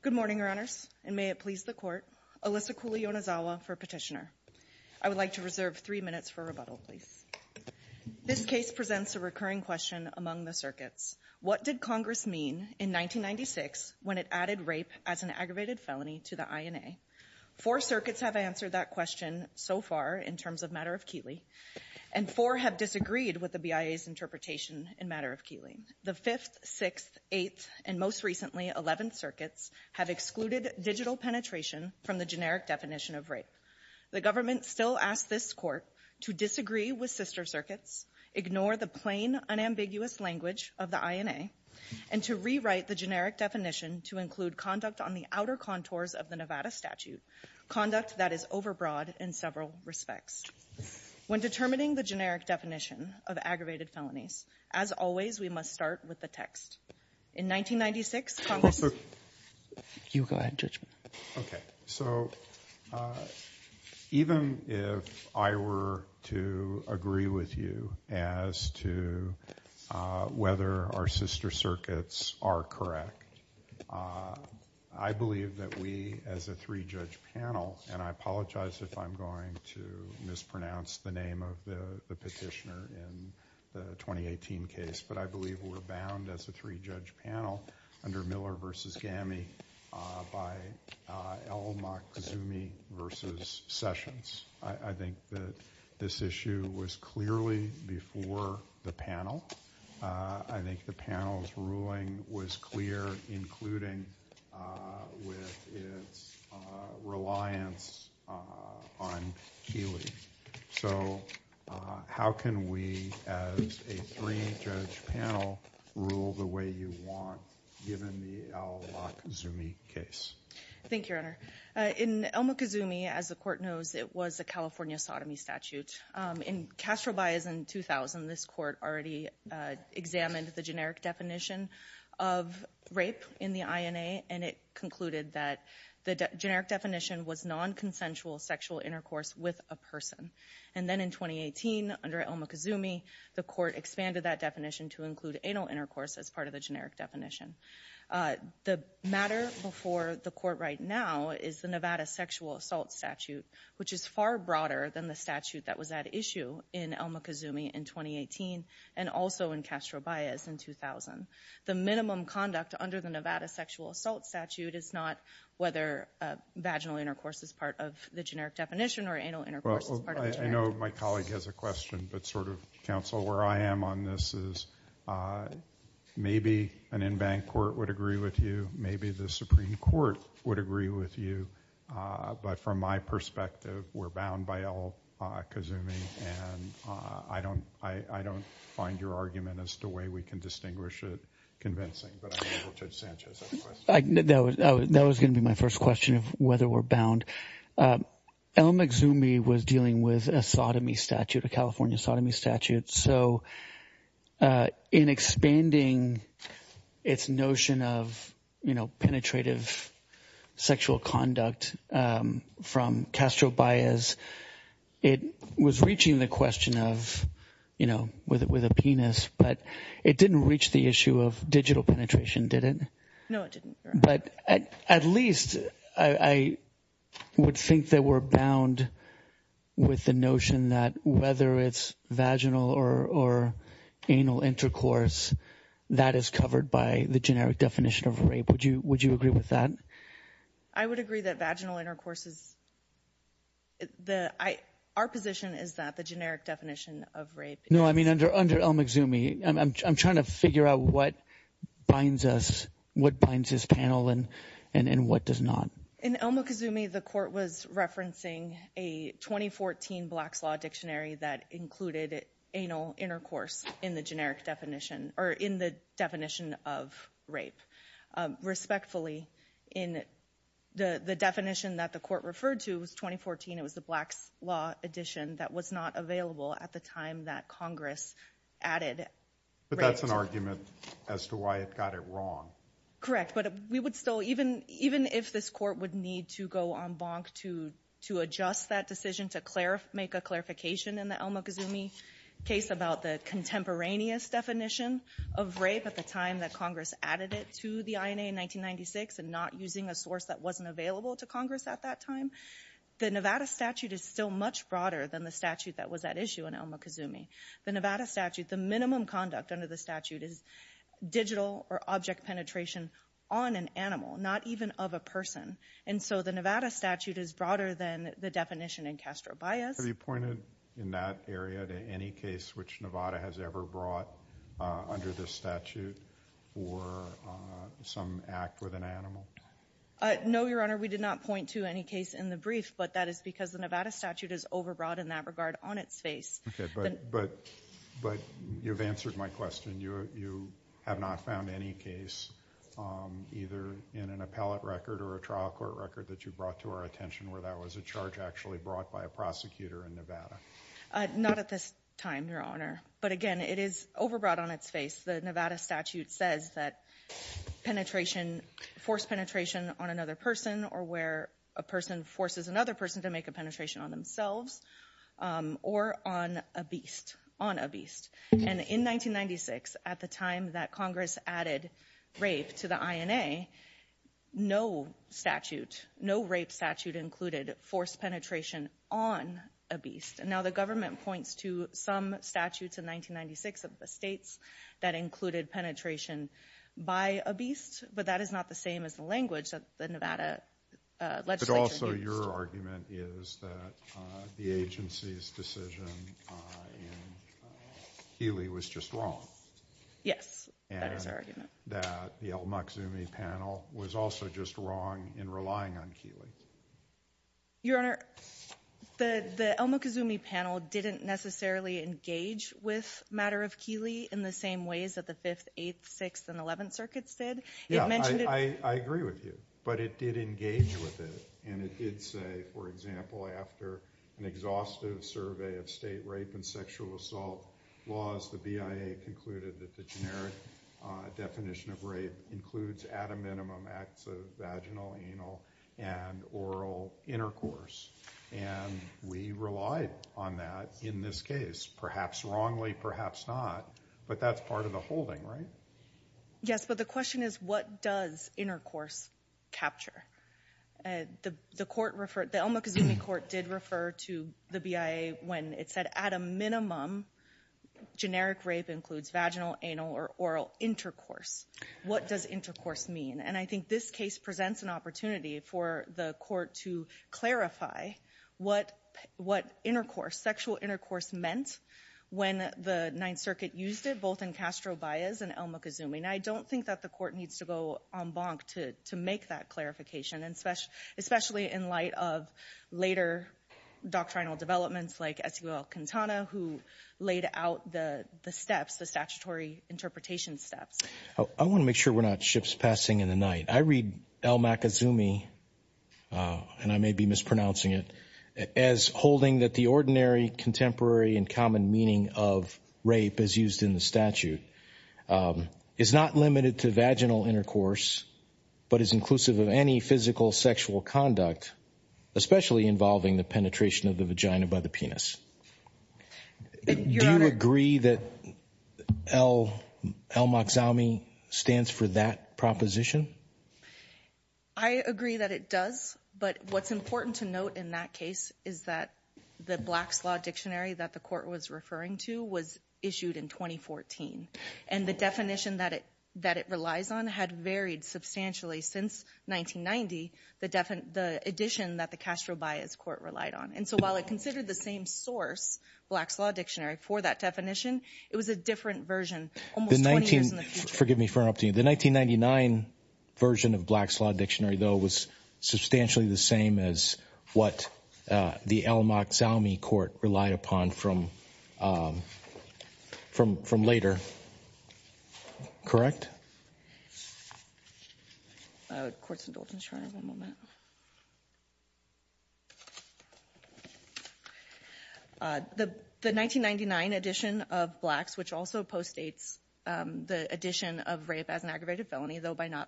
Good morning, Your Honors, and may it please the Court, Alyssa Cooley-Yonezawa for petitioner. I would like to reserve three minutes for rebuttal, please. This case presents a recurring question among the circuits. What did Congress mean in 1996 when it added rape as an aggravated felony to the INA? Four circuits have answered that question so far in terms of matter of Keighley, and four have disagreed with the BIA's interpretation in matter of Keighley. The 5th, 6th, 8th, and most recently 11th circuits have excluded digital penetration from the generic definition of rape. The government still asks this Court to disagree with sister circuits, ignore the plain, unambiguous language of the INA, and to rewrite the generic definition to include conduct on the outer contours of the Nevada statute, conduct that is overbroad in several respects. When determining the generic definition of aggravated felonies, as always, we must start with the text. In 1996, Congress... You go ahead, Judge. Okay. So even if I were to agree with you as to whether our sister circuits are correct, I believe that we as a three-judge panel, and I apologize if I'm going to mispronounce the name of the petitioner in the 2018 case, but I believe we're bound as a three-judge panel under Miller v. Gammie by L. Maksumy v. Sessions. I think that this issue was clearly before the panel. I think the panel's ruling was clear, including with its reliance on Keighley. So how can we as a three-judge panel rule the way you want, given the L. Maksumy case? Thank you, Your Honor. In L. Maksumy, as the court knows, it was a California sodomy statute. In Castro Bias in 2000, this court already examined the generic definition of rape in the INA, and it concluded that the generic definition was non-consensual sexual intercourse with a person. And then in 2018, under L. Maksumy, the court expanded that definition to include anal intercourse as part of the generic definition. The matter before the court right now is the Nevada sexual assault statute, which is far broader than the statute that was at issue in L. Maksumy in 2018 and also in Castro Bias in 2000. The minimum conduct under the Nevada sexual assault statute is not whether vaginal intercourse is part of the generic definition or anal intercourse is part of the generic definition. I know my colleague has a question, but sort of, counsel, where I am on this is maybe an in-bank court would agree with you, maybe the Supreme Court would agree with you, but from my perspective, we're bound by L. Maksumy, and I don't find your argument as to the way we can distinguish it convincing. But I'll let Judge Sanchez have a question. That was going to be my first question of whether we're bound. L. Maksumy was dealing with a sodomy statute, a California sodomy statute. So in expanding its notion of, you know, penetrative sexual conduct from Castro Bias, it was reaching the question of, you know, with a penis, but it didn't reach the issue of digital penetration, did it? No, it didn't. But at least I would think that we're bound with the notion that whether it's vaginal or anal intercourse, that is covered by the generic definition of rape. Would you agree with that? I would agree that vaginal intercourse is the—our position is that the generic definition of rape is— No, I mean, under L. Maksumy, I'm trying to figure out what binds us, what binds this panel, and what does not. In L. Maksumy, the court was referencing a 2014 Blacks Law Dictionary that included anal intercourse in the generic definition, or in the definition of rape. Respectfully, in the definition that the court referred to, it was 2014. It was the Blacks Law edition that was not available at the time that Congress added rape. But that's an argument as to why it got it wrong. Correct. But we would still—even if this court would need to go en banc to adjust that decision to make a clarification in the L. Maksumy case about the contemporaneous definition of rape at the time that Congress added it to the INA in 1996 and not using a source that wasn't available to Congress at that time, the Nevada statute is still much broader than the statute that was at issue in L. Maksumy. The Nevada statute, the minimum conduct under the statute is digital or object penetration on an animal, not even of a person. And so the Nevada statute is broader than the definition in Castro-Bias. Have you pointed in that area to any case which Nevada has ever brought under this statute or some act with an animal? No, Your Honor. We did not point to any case in the brief, but that is because the Nevada statute is overbroad in that regard on its face. But you've answered my question. You have not found any case either in an appellate record or a trial court record that you brought to our attention where that was a charge actually brought by a prosecutor in Nevada? Not at this time, Your Honor. But again, it is overbroad on its face. The Nevada statute says that forced penetration on another person or where a person forces another person to make a penetration on themselves or on a beast, on a beast. And in 1996, at the time that Congress added rape to the INA, no rape statute included forced penetration on a beast. And now the government points to some statutes in 1996 of the states that included penetration by a beast, but that is not the same as the language that the Nevada legislation used. But also your argument is that the agency's decision in Keeley was just wrong. Yes, that is our argument. And that the El Muxume panel was also just wrong in relying on Keeley. Your Honor, the El Muxume panel didn't necessarily engage with matter of Keeley in the same ways that the 5th, 8th, 6th, and 11th circuits did. Yeah, I agree with you, but it did engage with it. And it did say, for example, after an exhaustive survey of state rape and sexual assault laws, the BIA concluded that the generic definition of rape includes, at a minimum, acts of vaginal, anal, and oral intercourse. And we relied on that in this case, perhaps wrongly, perhaps not. But that's part of the holding, right? Yes, but the question is, what does intercourse capture? The El Muxume court did refer to the BIA when it said, at a minimum, generic rape includes vaginal, anal, or oral intercourse. What does intercourse mean? And I think this case presents an opportunity for the court to clarify what intercourse, sexual intercourse, meant when the 9th Circuit used it, and El Muxume. Now, I don't think that the court needs to go en banc to make that clarification, especially in light of later doctrinal developments like S.U.L. Quintana, who laid out the steps, the statutory interpretation steps. I want to make sure we're not ships passing in the night. I read El Muxume, and I may be mispronouncing it, as holding that the ordinary, contemporary, and common meaning of rape as used in the statute is not limited to vaginal intercourse, but is inclusive of any physical sexual conduct, especially involving the penetration of the vagina by the penis. Do you agree that El Muxume stands for that proposition? I agree that it does, but what's important to note in that case is that the Black's Law Dictionary that the court was referring to was issued in 2014, and the definition that it relies on had varied substantially since 1990, the addition that the Castro-Bias court relied on. And so while it considered the same source, Black's Law Dictionary, for that definition, it was a different version almost 20 years in the future. Forgive me for interrupting you. The 1999 version of Black's Law Dictionary, though, was substantially the same as what the El Muxume court relied upon from later. Correct? The 1999 edition of Black's, which also postdates the addition of rape as an aggravated felony, though by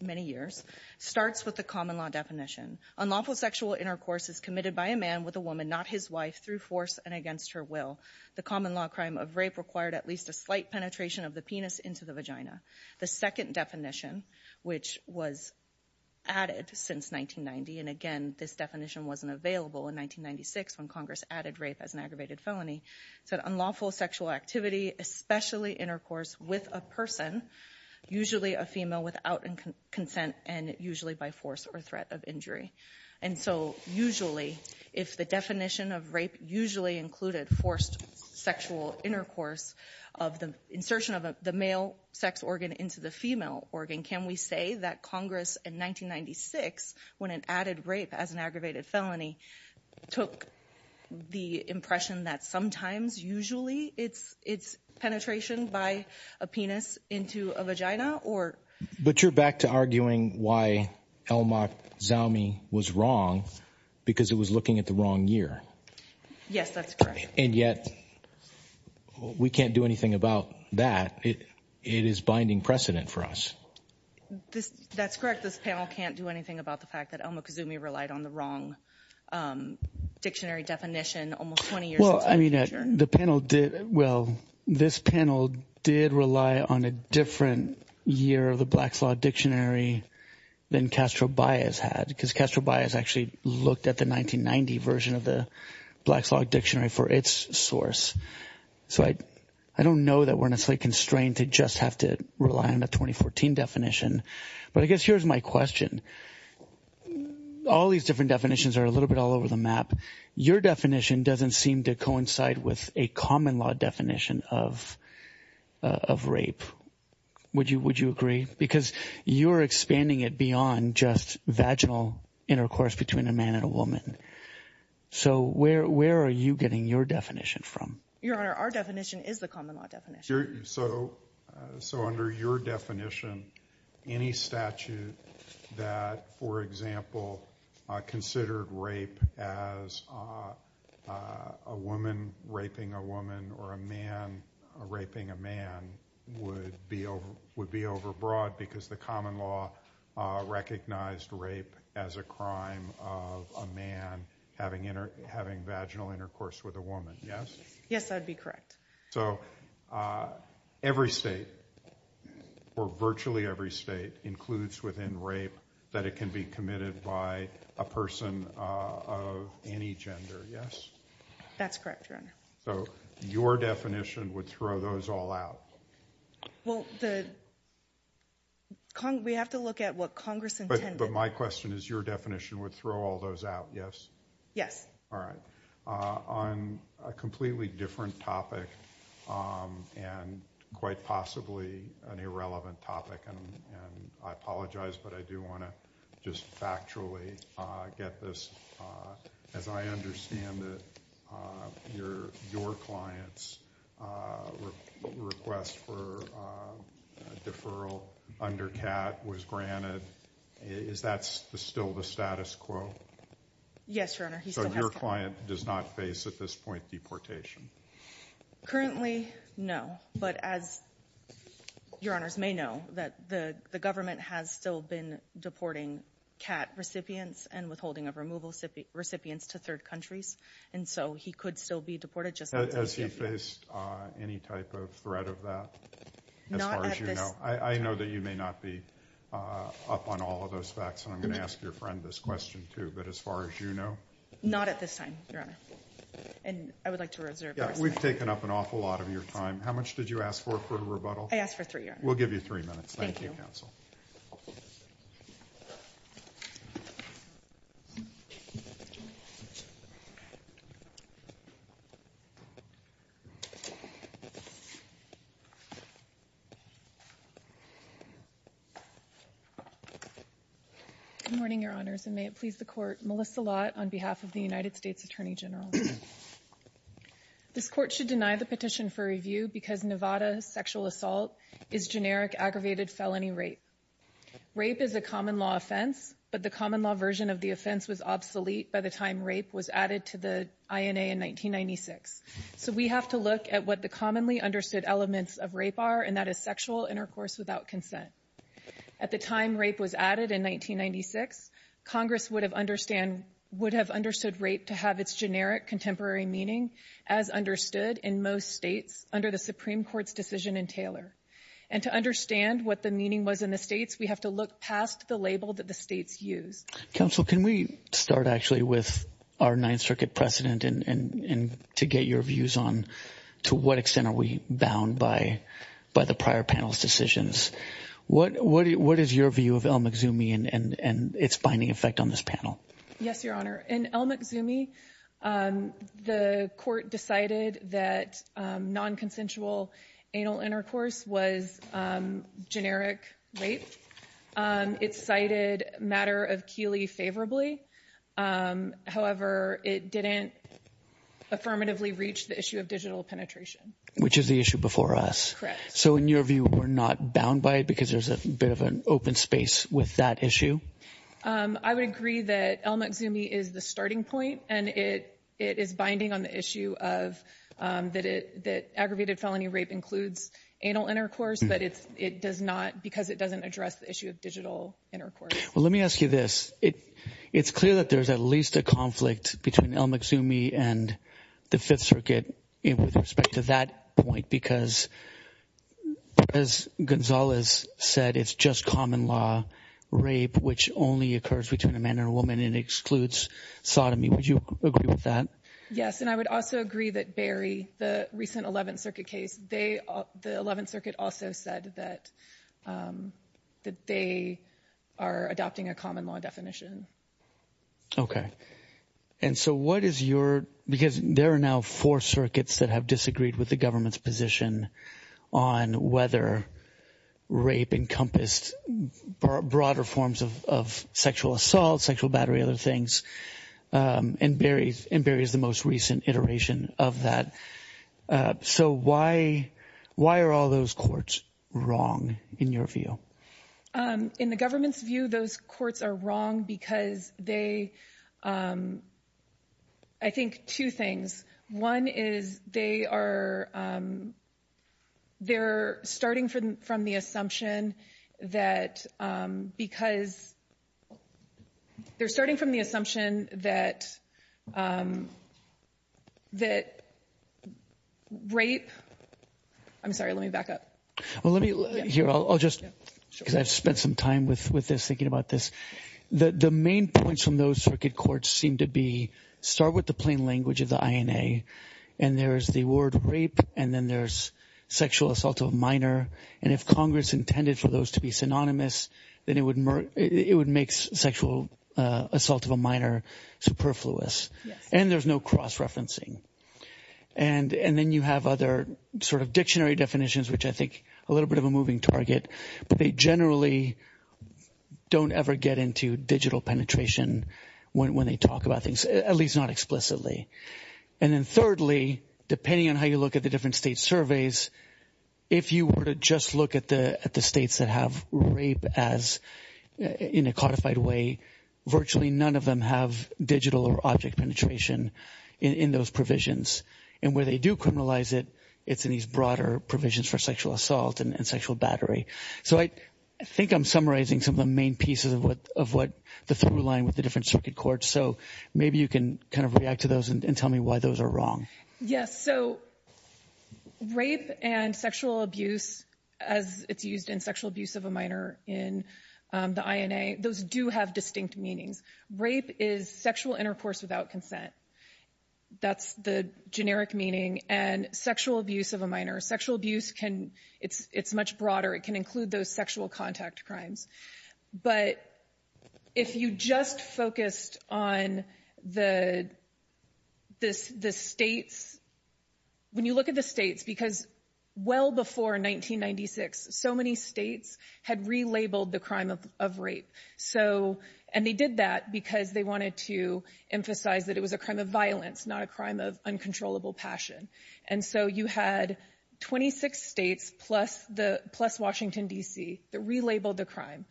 many years, starts with the common law definition. Unlawful sexual intercourse is committed by a man with a woman, not his wife, through force and against her will. The common law crime of rape required at least a slight penetration of the penis into the vagina. The second definition, which was added since 1990, and again, this definition wasn't available in 1996 when Congress added rape as an aggravated felony, said unlawful sexual activity, especially intercourse with a person, usually a female, without consent and usually by force or threat of injury. And so usually, if the definition of rape usually included forced sexual intercourse of the insertion of the male sex organ into the female organ, can we say that Congress in 1996, when it added rape as an aggravated felony, took the impression that sometimes, usually, it's penetration by a penis into a vagina? But you're back to arguing why El Mokzoumi was wrong, because it was looking at the wrong year. Yes, that's correct. And yet, we can't do anything about that. It is binding precedent for us. That's correct. This panel can't do anything about the fact that El Mokzoumi relied on the wrong dictionary definition almost 20 years into the future. I mean, the panel did, well, this panel did rely on a different year of the Blacks Law Dictionary than Castro-Bias had, because Castro-Bias actually looked at the 1990 version of the Blacks Law Dictionary for its source. So I don't know that we're necessarily constrained to just have to rely on the 2014 definition. But I guess here's my question. All these different definitions are a little bit all over the map. Your definition doesn't seem to coincide with a common law definition of rape. Would you agree? Because you're expanding it beyond just vaginal intercourse between a man and a woman. So where are you getting your definition from? Your Honor, our definition is the common law definition. So under your definition, any statute that, for example, considered rape as a woman raping a woman or a man raping a man would be overbroad because the common law recognized rape as a crime of a man having vaginal intercourse with a woman, yes? Yes, that would be correct. So every state, or virtually every state, includes within rape that it can be committed by a person of any gender, yes? That's correct, Your Honor. So your definition would throw those all out? Well, we have to look at what Congress intended. But my question is your definition would throw all those out, yes? Yes. All right. On a completely different topic and quite possibly an irrelevant topic, and I apologize, but I do want to just factually get this. As I understand it, your client's request for a deferral under CAT was granted. Is that still the status quo? Yes, Your Honor. So your client does not face at this point deportation? Currently, no. But as Your Honors may know, the government has still been deporting CAT recipients and withholding of removal recipients to third countries. And so he could still be deported just as a recipient. Has he faced any type of threat of that as far as you know? Not at this point. I know that you may not be up on all of those facts, and I'm going to ask your friend this question, too. But as far as you know? Not at this time, Your Honor. And I would like to reserve our time. Yeah, we've taken up an awful lot of your time. How much did you ask for for a rebuttal? I asked for three, Your Honor. We'll give you three minutes. Thank you. Good morning, Your Honors, and may it please the Court. Melissa Lott on behalf of the United States Attorney General. This Court should deny the petition for review because Nevada sexual assault is generic aggravated felony rape. Rape is a common law offense, but the common law version of the offense was obsolete by the time rape was added to the INA in 1996. So we have to look at what the commonly understood elements of rape are, and that is sexual intercourse without consent. At the time rape was added in 1996, Congress would have understood rape to have its generic contemporary meaning, as understood in most states under the Supreme Court's decision in Taylor. And to understand what the meaning was in the states, we have to look past the label that the states use. Counsel, can we start actually with our Ninth Circuit precedent and to get your views on to what extent are we bound by the prior panel's decisions? What is your view of El Mxume and its binding effect on this panel? Yes, Your Honor. In El Mxume, the Court decided that nonconsensual anal intercourse was generic rape. It cited matter of Keeley favorably. However, it didn't affirmatively reach the issue of digital penetration. Which is the issue before us. So in your view, we're not bound by it because there's a bit of an open space with that issue? I would agree that El Mxume is the starting point, and it is binding on the issue that aggravated felony rape includes anal intercourse, but it does not because it doesn't address the issue of digital intercourse. Well, let me ask you this. It's clear that there's at least a conflict between El Mxume and the Fifth Circuit with respect to that point, because as Gonzalez said, it's just common law rape which only occurs between a man and a woman and excludes sodomy. Would you agree with that? Yes. And I would also agree that Berry, the recent Eleventh Circuit case, the Eleventh Circuit also said that they are adopting a common law definition. Okay. And so what is your – because there are now four circuits that have disagreed with the government's position on whether rape encompassed broader forms of sexual assault, sexual battery, other things, and Berry is the most recent iteration of that. So why are all those courts wrong in your view? In the government's view, those courts are wrong because they – I think two things. One is they are starting from the assumption that because – they're starting from the assumption that rape – I'm sorry, let me back up. Well, let me – here, I'll just – because I've spent some time with this thinking about this. The main points from those circuit courts seem to be start with the plain language of the INA, and there's the word rape, and then there's sexual assault of a minor. And if Congress intended for those to be synonymous, then it would make sexual assault of a minor superfluous. Yes. And there's no cross-referencing. And then you have other sort of dictionary definitions, which I think are a little bit of a moving target. But they generally don't ever get into digital penetration when they talk about things, at least not explicitly. And then thirdly, depending on how you look at the different state surveys, if you were to just look at the states that have rape as – in a codified way, virtually none of them have digital or object penetration in those provisions. And where they do criminalize it, it's in these broader provisions for sexual assault and sexual battery. So I think I'm summarizing some of the main pieces of what – the through line with the different circuit courts. So maybe you can kind of react to those and tell me why those are wrong. Yes. So rape and sexual abuse, as it's used in sexual abuse of a minor in the INA, those do have distinct meanings. Rape is sexual intercourse without consent. That's the generic meaning. And sexual abuse of a minor, sexual abuse can – it's much broader. It can include those sexual contact crimes. But if you just focused on the states – when you look at the states, because well before 1996, so many states had relabeled the crime of rape. And they did that because they wanted to emphasize that it was a crime of violence, not a crime of uncontrollable passion. And so you had 26 states plus Washington, D.C. that relabeled the crime.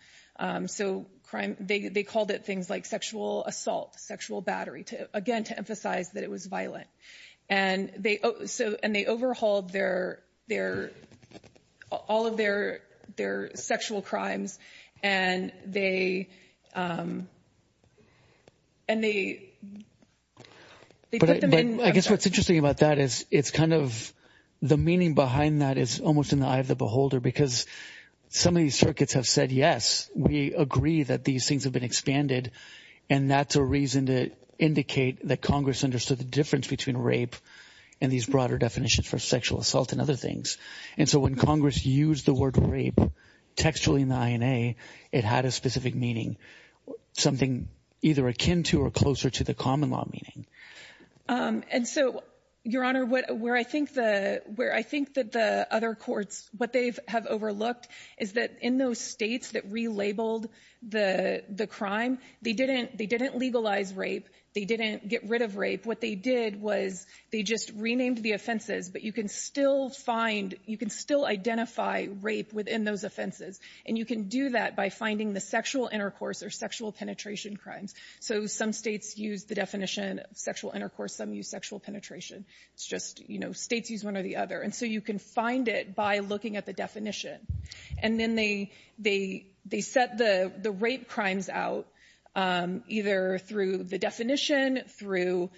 So they called it things like sexual assault, sexual battery, again, to emphasize that it was violent. And they overhauled their – all of their sexual crimes and they put them in – But I guess what's interesting about that is it's kind of – the meaning behind that is almost in the eye of the beholder because some of these circuits have said yes, we agree that these things have been expanded. And that's a reason to indicate that Congress understood the difference between rape and these broader definitions for sexual assault and other things. And so when Congress used the word rape textually in the INA, it had a specific meaning, something either akin to or closer to the common law meaning. And so, Your Honor, where I think that the other courts – what they have overlooked is that in those states that relabeled the crime, they didn't legalize rape. They didn't get rid of rape. What they did was they just renamed the offenses. But you can still find – you can still identify rape within those offenses. And you can do that by finding the sexual intercourse or sexual penetration crimes. So some states use the definition of sexual intercourse. Some use sexual penetration. It's just, you know, states use one or the other. And so you can find it by looking at the definition. And then they set the rape crimes out either through the definition, through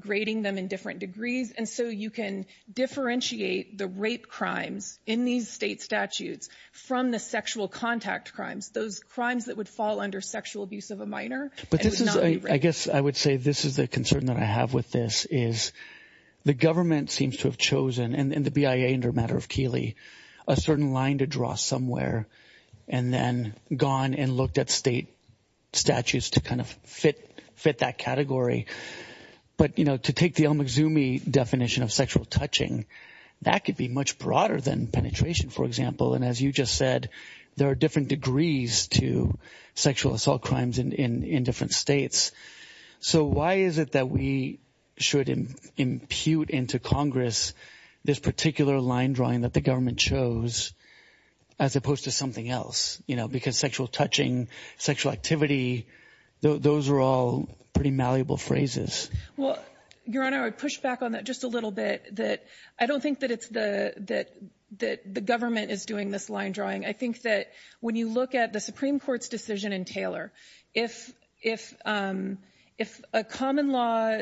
grading them in different degrees. And so you can differentiate the rape crimes in these state statutes from the sexual contact crimes, those crimes that would fall under sexual abuse of a minor and would not be rape. I guess I would say this is the concern that I have with this is the government seems to have chosen, and the BIA under a matter of Keeley, a certain line to draw somewhere and then gone and looked at state statutes to kind of fit that category. But, you know, to take the El Mazoomi definition of sexual touching, that could be much broader than penetration, for example. And as you just said, there are different degrees to sexual assault crimes in different states. So why is it that we should impute into Congress this particular line drawing that the government chose as opposed to something else? You know, because sexual touching, sexual activity, those are all pretty malleable phrases. Well, Your Honor, I would push back on that just a little bit, that I don't think that it's the government is doing this line drawing. I think that when you look at the Supreme Court's decision in Taylor, if a common law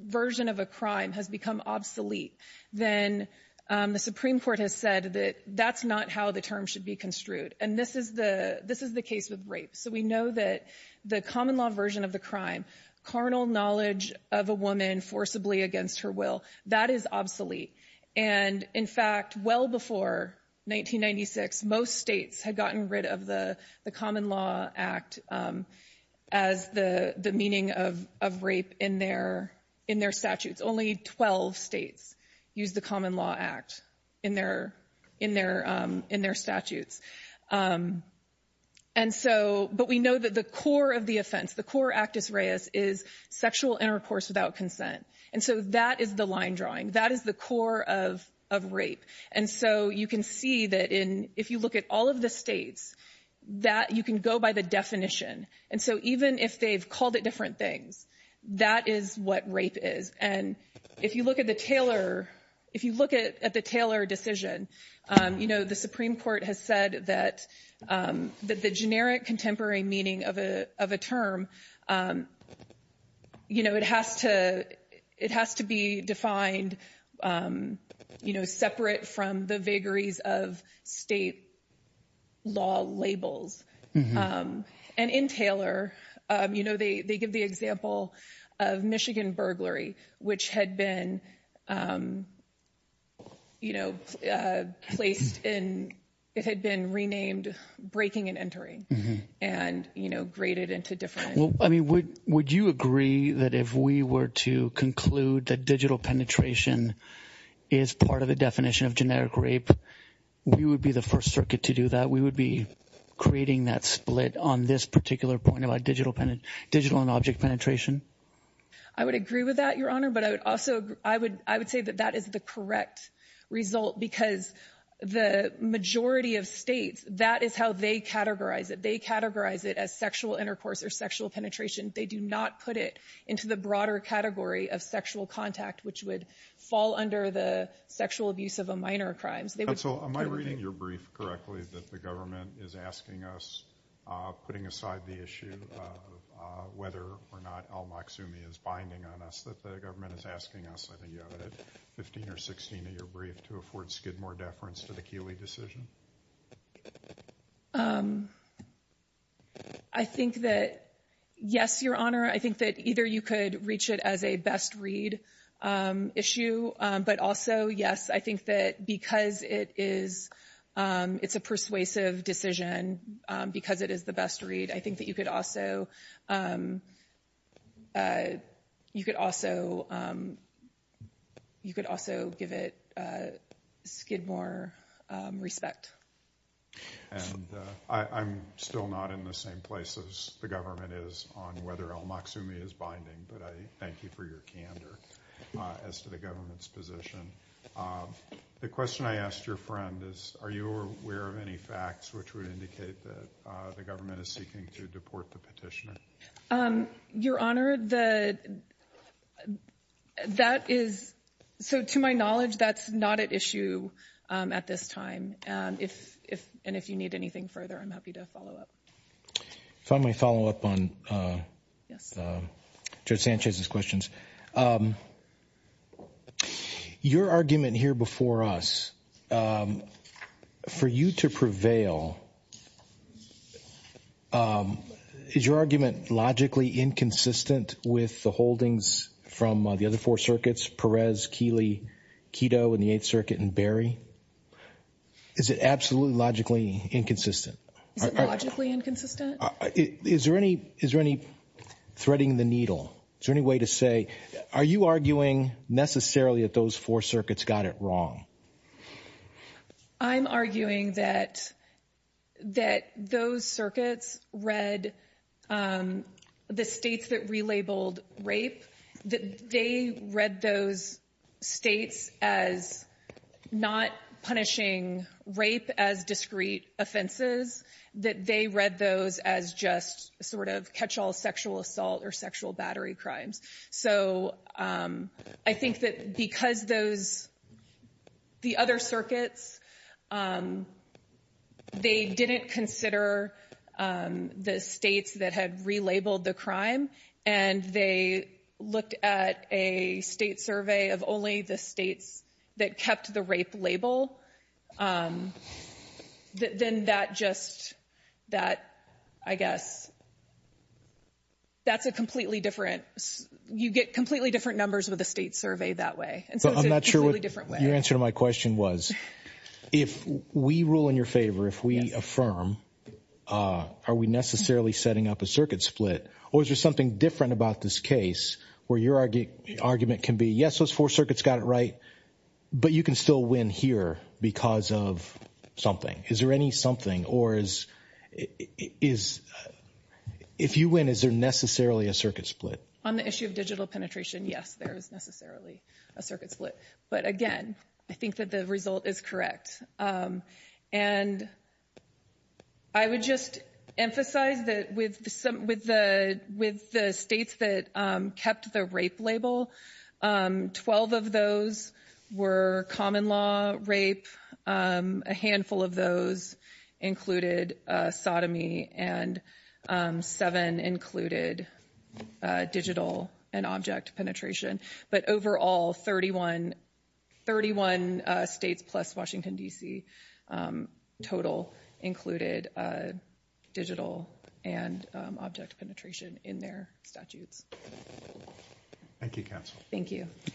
version of a crime has become obsolete, then the Supreme Court has said that that's not how the term should be construed. And this is the case with rape. So we know that the common law version of the crime, carnal knowledge of a woman forcibly against her will, that is obsolete. And in fact, well before 1996, most states had gotten rid of the Common Law Act as the meaning of rape in their statutes. Only 12 states used the Common Law Act in their statutes. But we know that the core of the offense, the core actus reus, is sexual intercourse without consent. And so that is the line drawing. That is the core of rape. And so you can see that if you look at all of the states, that you can go by the definition. And so even if they've called it different things, that is what rape is. And if you look at the Taylor decision, the Supreme Court has said that the generic contemporary meaning of a term, it has to be defined separate from the vagaries of state law labels. And in Taylor, you know, they give the example of Michigan burglary, which had been, you know, placed in, it had been renamed breaking and entering and, you know, graded into different. I mean, would you agree that if we were to conclude that digital penetration is part of the definition of generic rape, we would be the first circuit to do that? We would be creating that split on this particular point about digital and object penetration? I would agree with that, Your Honor, but I would also, I would say that that is the correct result because the majority of states, that is how they categorize it. They categorize it as sexual intercourse or sexual penetration. They do not put it into the broader category of sexual contact, which would fall under the sexual abuse of a minor crimes. Am I reading your brief correctly that the government is asking us, putting aside the issue of whether or not Al-Maksoumi is binding on us, that the government is asking us, I think you have it at 15 or 16 in your brief, to afford Skidmore deference to the Keeley decision? I think that, yes, Your Honor, I think that either you could reach it as a best read issue, but also, yes, I think that because it is a persuasive decision, because it is the best read, I think that you could also give it Skidmore respect. And I'm still not in the same place as the government is on whether Al-Maksoumi is binding, but I thank you for your candor as to the government's position. The question I asked your friend is, are you aware of any facts which would indicate that the government is seeking to deport the petitioner? Your Honor, that is, so to my knowledge, that's not at issue at this time. And if you need anything further, I'm happy to follow up. If I may follow up on Judge Sanchez's questions. Your argument here before us, for you to prevail, is your argument logically inconsistent with the holdings from the other four circuits, Perez, Keeley, Keto, and the Eighth Circuit, and Berry? Is it absolutely logically inconsistent? Is it logically inconsistent? Is there any threading the needle? Is there any way to say, are you arguing necessarily that those four circuits got it wrong? I'm arguing that those circuits read the states that relabeled rape, that they read those states as not punishing rape as discrete offenses, that they read those as just sort of catch-all sexual assault or sexual battery crimes. So I think that because those, the other circuits, they didn't consider the states that had relabeled the crime, and they looked at a state survey of only the states that kept the rape label, then that just, I guess, that's a completely different, you get completely different numbers with a state survey that way. So I'm not sure what your answer to my question was. If we rule in your favor, if we affirm, are we necessarily setting up a circuit split? Or is there something different about this case where your argument can be, yes, those four circuits got it right, but you can still win here because of something. Is there any something, or is, if you win, is there necessarily a circuit split? On the issue of digital penetration, yes, there is necessarily a circuit split. But again, I think that the result is correct. And I would just emphasize that with the states that kept the rape label, 12 of those were common law rape. A handful of those included sodomy, and seven included digital and object penetration. But overall, 31 states plus Washington, D.C. total included digital and object penetration in their statutes. Thank you, counsel. Thank you. Thank you.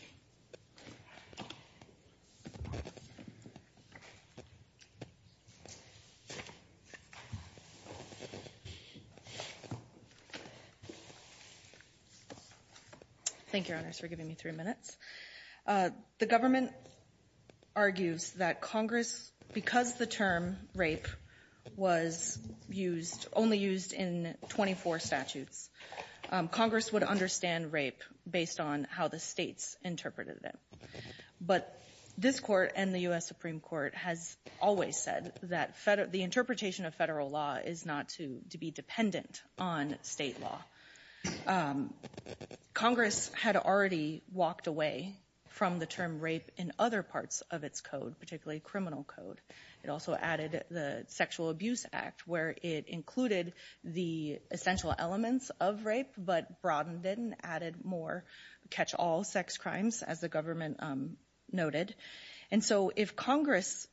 Thank you, Your Honors, for giving me three minutes. The government argues that Congress, because the term rape was used, only used in 24 statutes, Congress would understand rape based on how the states interpreted it. But this Court and the U.S. Supreme Court has always said that the interpretation of federal law is not to be dependent on state law. Congress had already walked away from the term rape in other parts of its code, particularly criminal code. It also added the Sexual Abuse Act, where it included the essential elements of rape, but broadened it and added more catch-all sex crimes, as the government noted. And so if Congress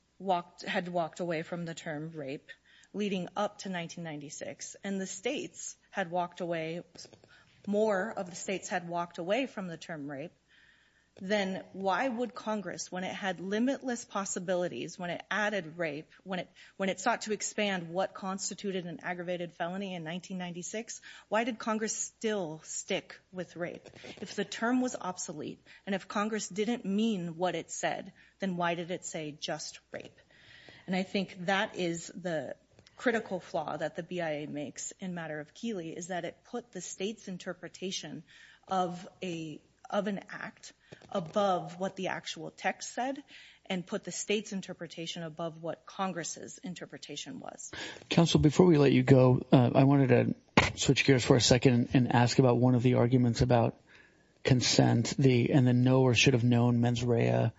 had walked away from the term rape leading up to 1996, and the states had walked away, more of the states had walked away from the term rape, then why would Congress, when it had limitless possibilities, when it added rape, when it sought to expand what constituted an aggravated felony in 1996, why did Congress still stick with rape? If the term was obsolete, and if Congress didn't mean what it said, then why did it say just rape? And I think that is the critical flaw that the BIA makes in matter of Keeley, is that it put the state's interpretation of an act above what the actual text said, and put the state's interpretation above what Congress's interpretation was. Counsel, before we let you go, I wanted to switch gears for a second and ask about one of the arguments about consent, and the know or should have known mens rea.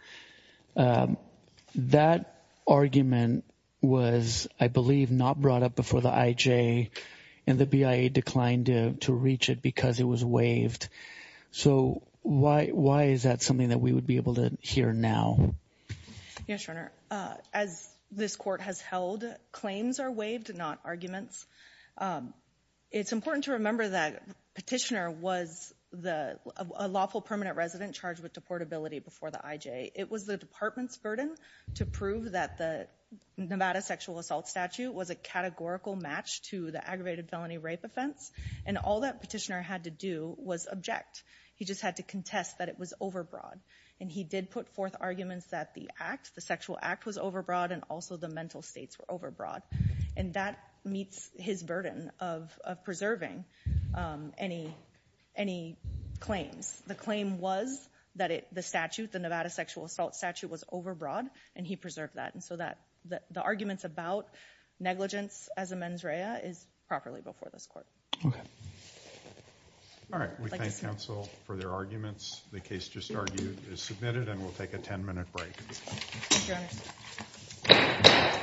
That argument was, I believe, not brought up before the IJ, and the BIA declined to reach it because it was waived. So why is that something that we would be able to hear now? Yes, Your Honor. As this court has held, claims are waived, not arguments. It's important to remember that Petitioner was a lawful permanent resident charged with deportability before the IJ. It was the department's burden to prove that the Nevada sexual assault statute was a categorical match to the aggravated felony rape offense. And all that Petitioner had to do was object. He just had to contest that it was overbroad. And he did put forth arguments that the act, the sexual act, was overbroad, and also the mental states were overbroad. And that meets his burden of preserving any claims. The claim was that the statute, the Nevada sexual assault statute, was overbroad, and he preserved that. And so the arguments about negligence as a mens rea is properly before this court. Okay. All right. We thank counsel for their arguments. The case just argued is submitted, and we'll take a 10-minute break. Thank you, Your Honor. All rise.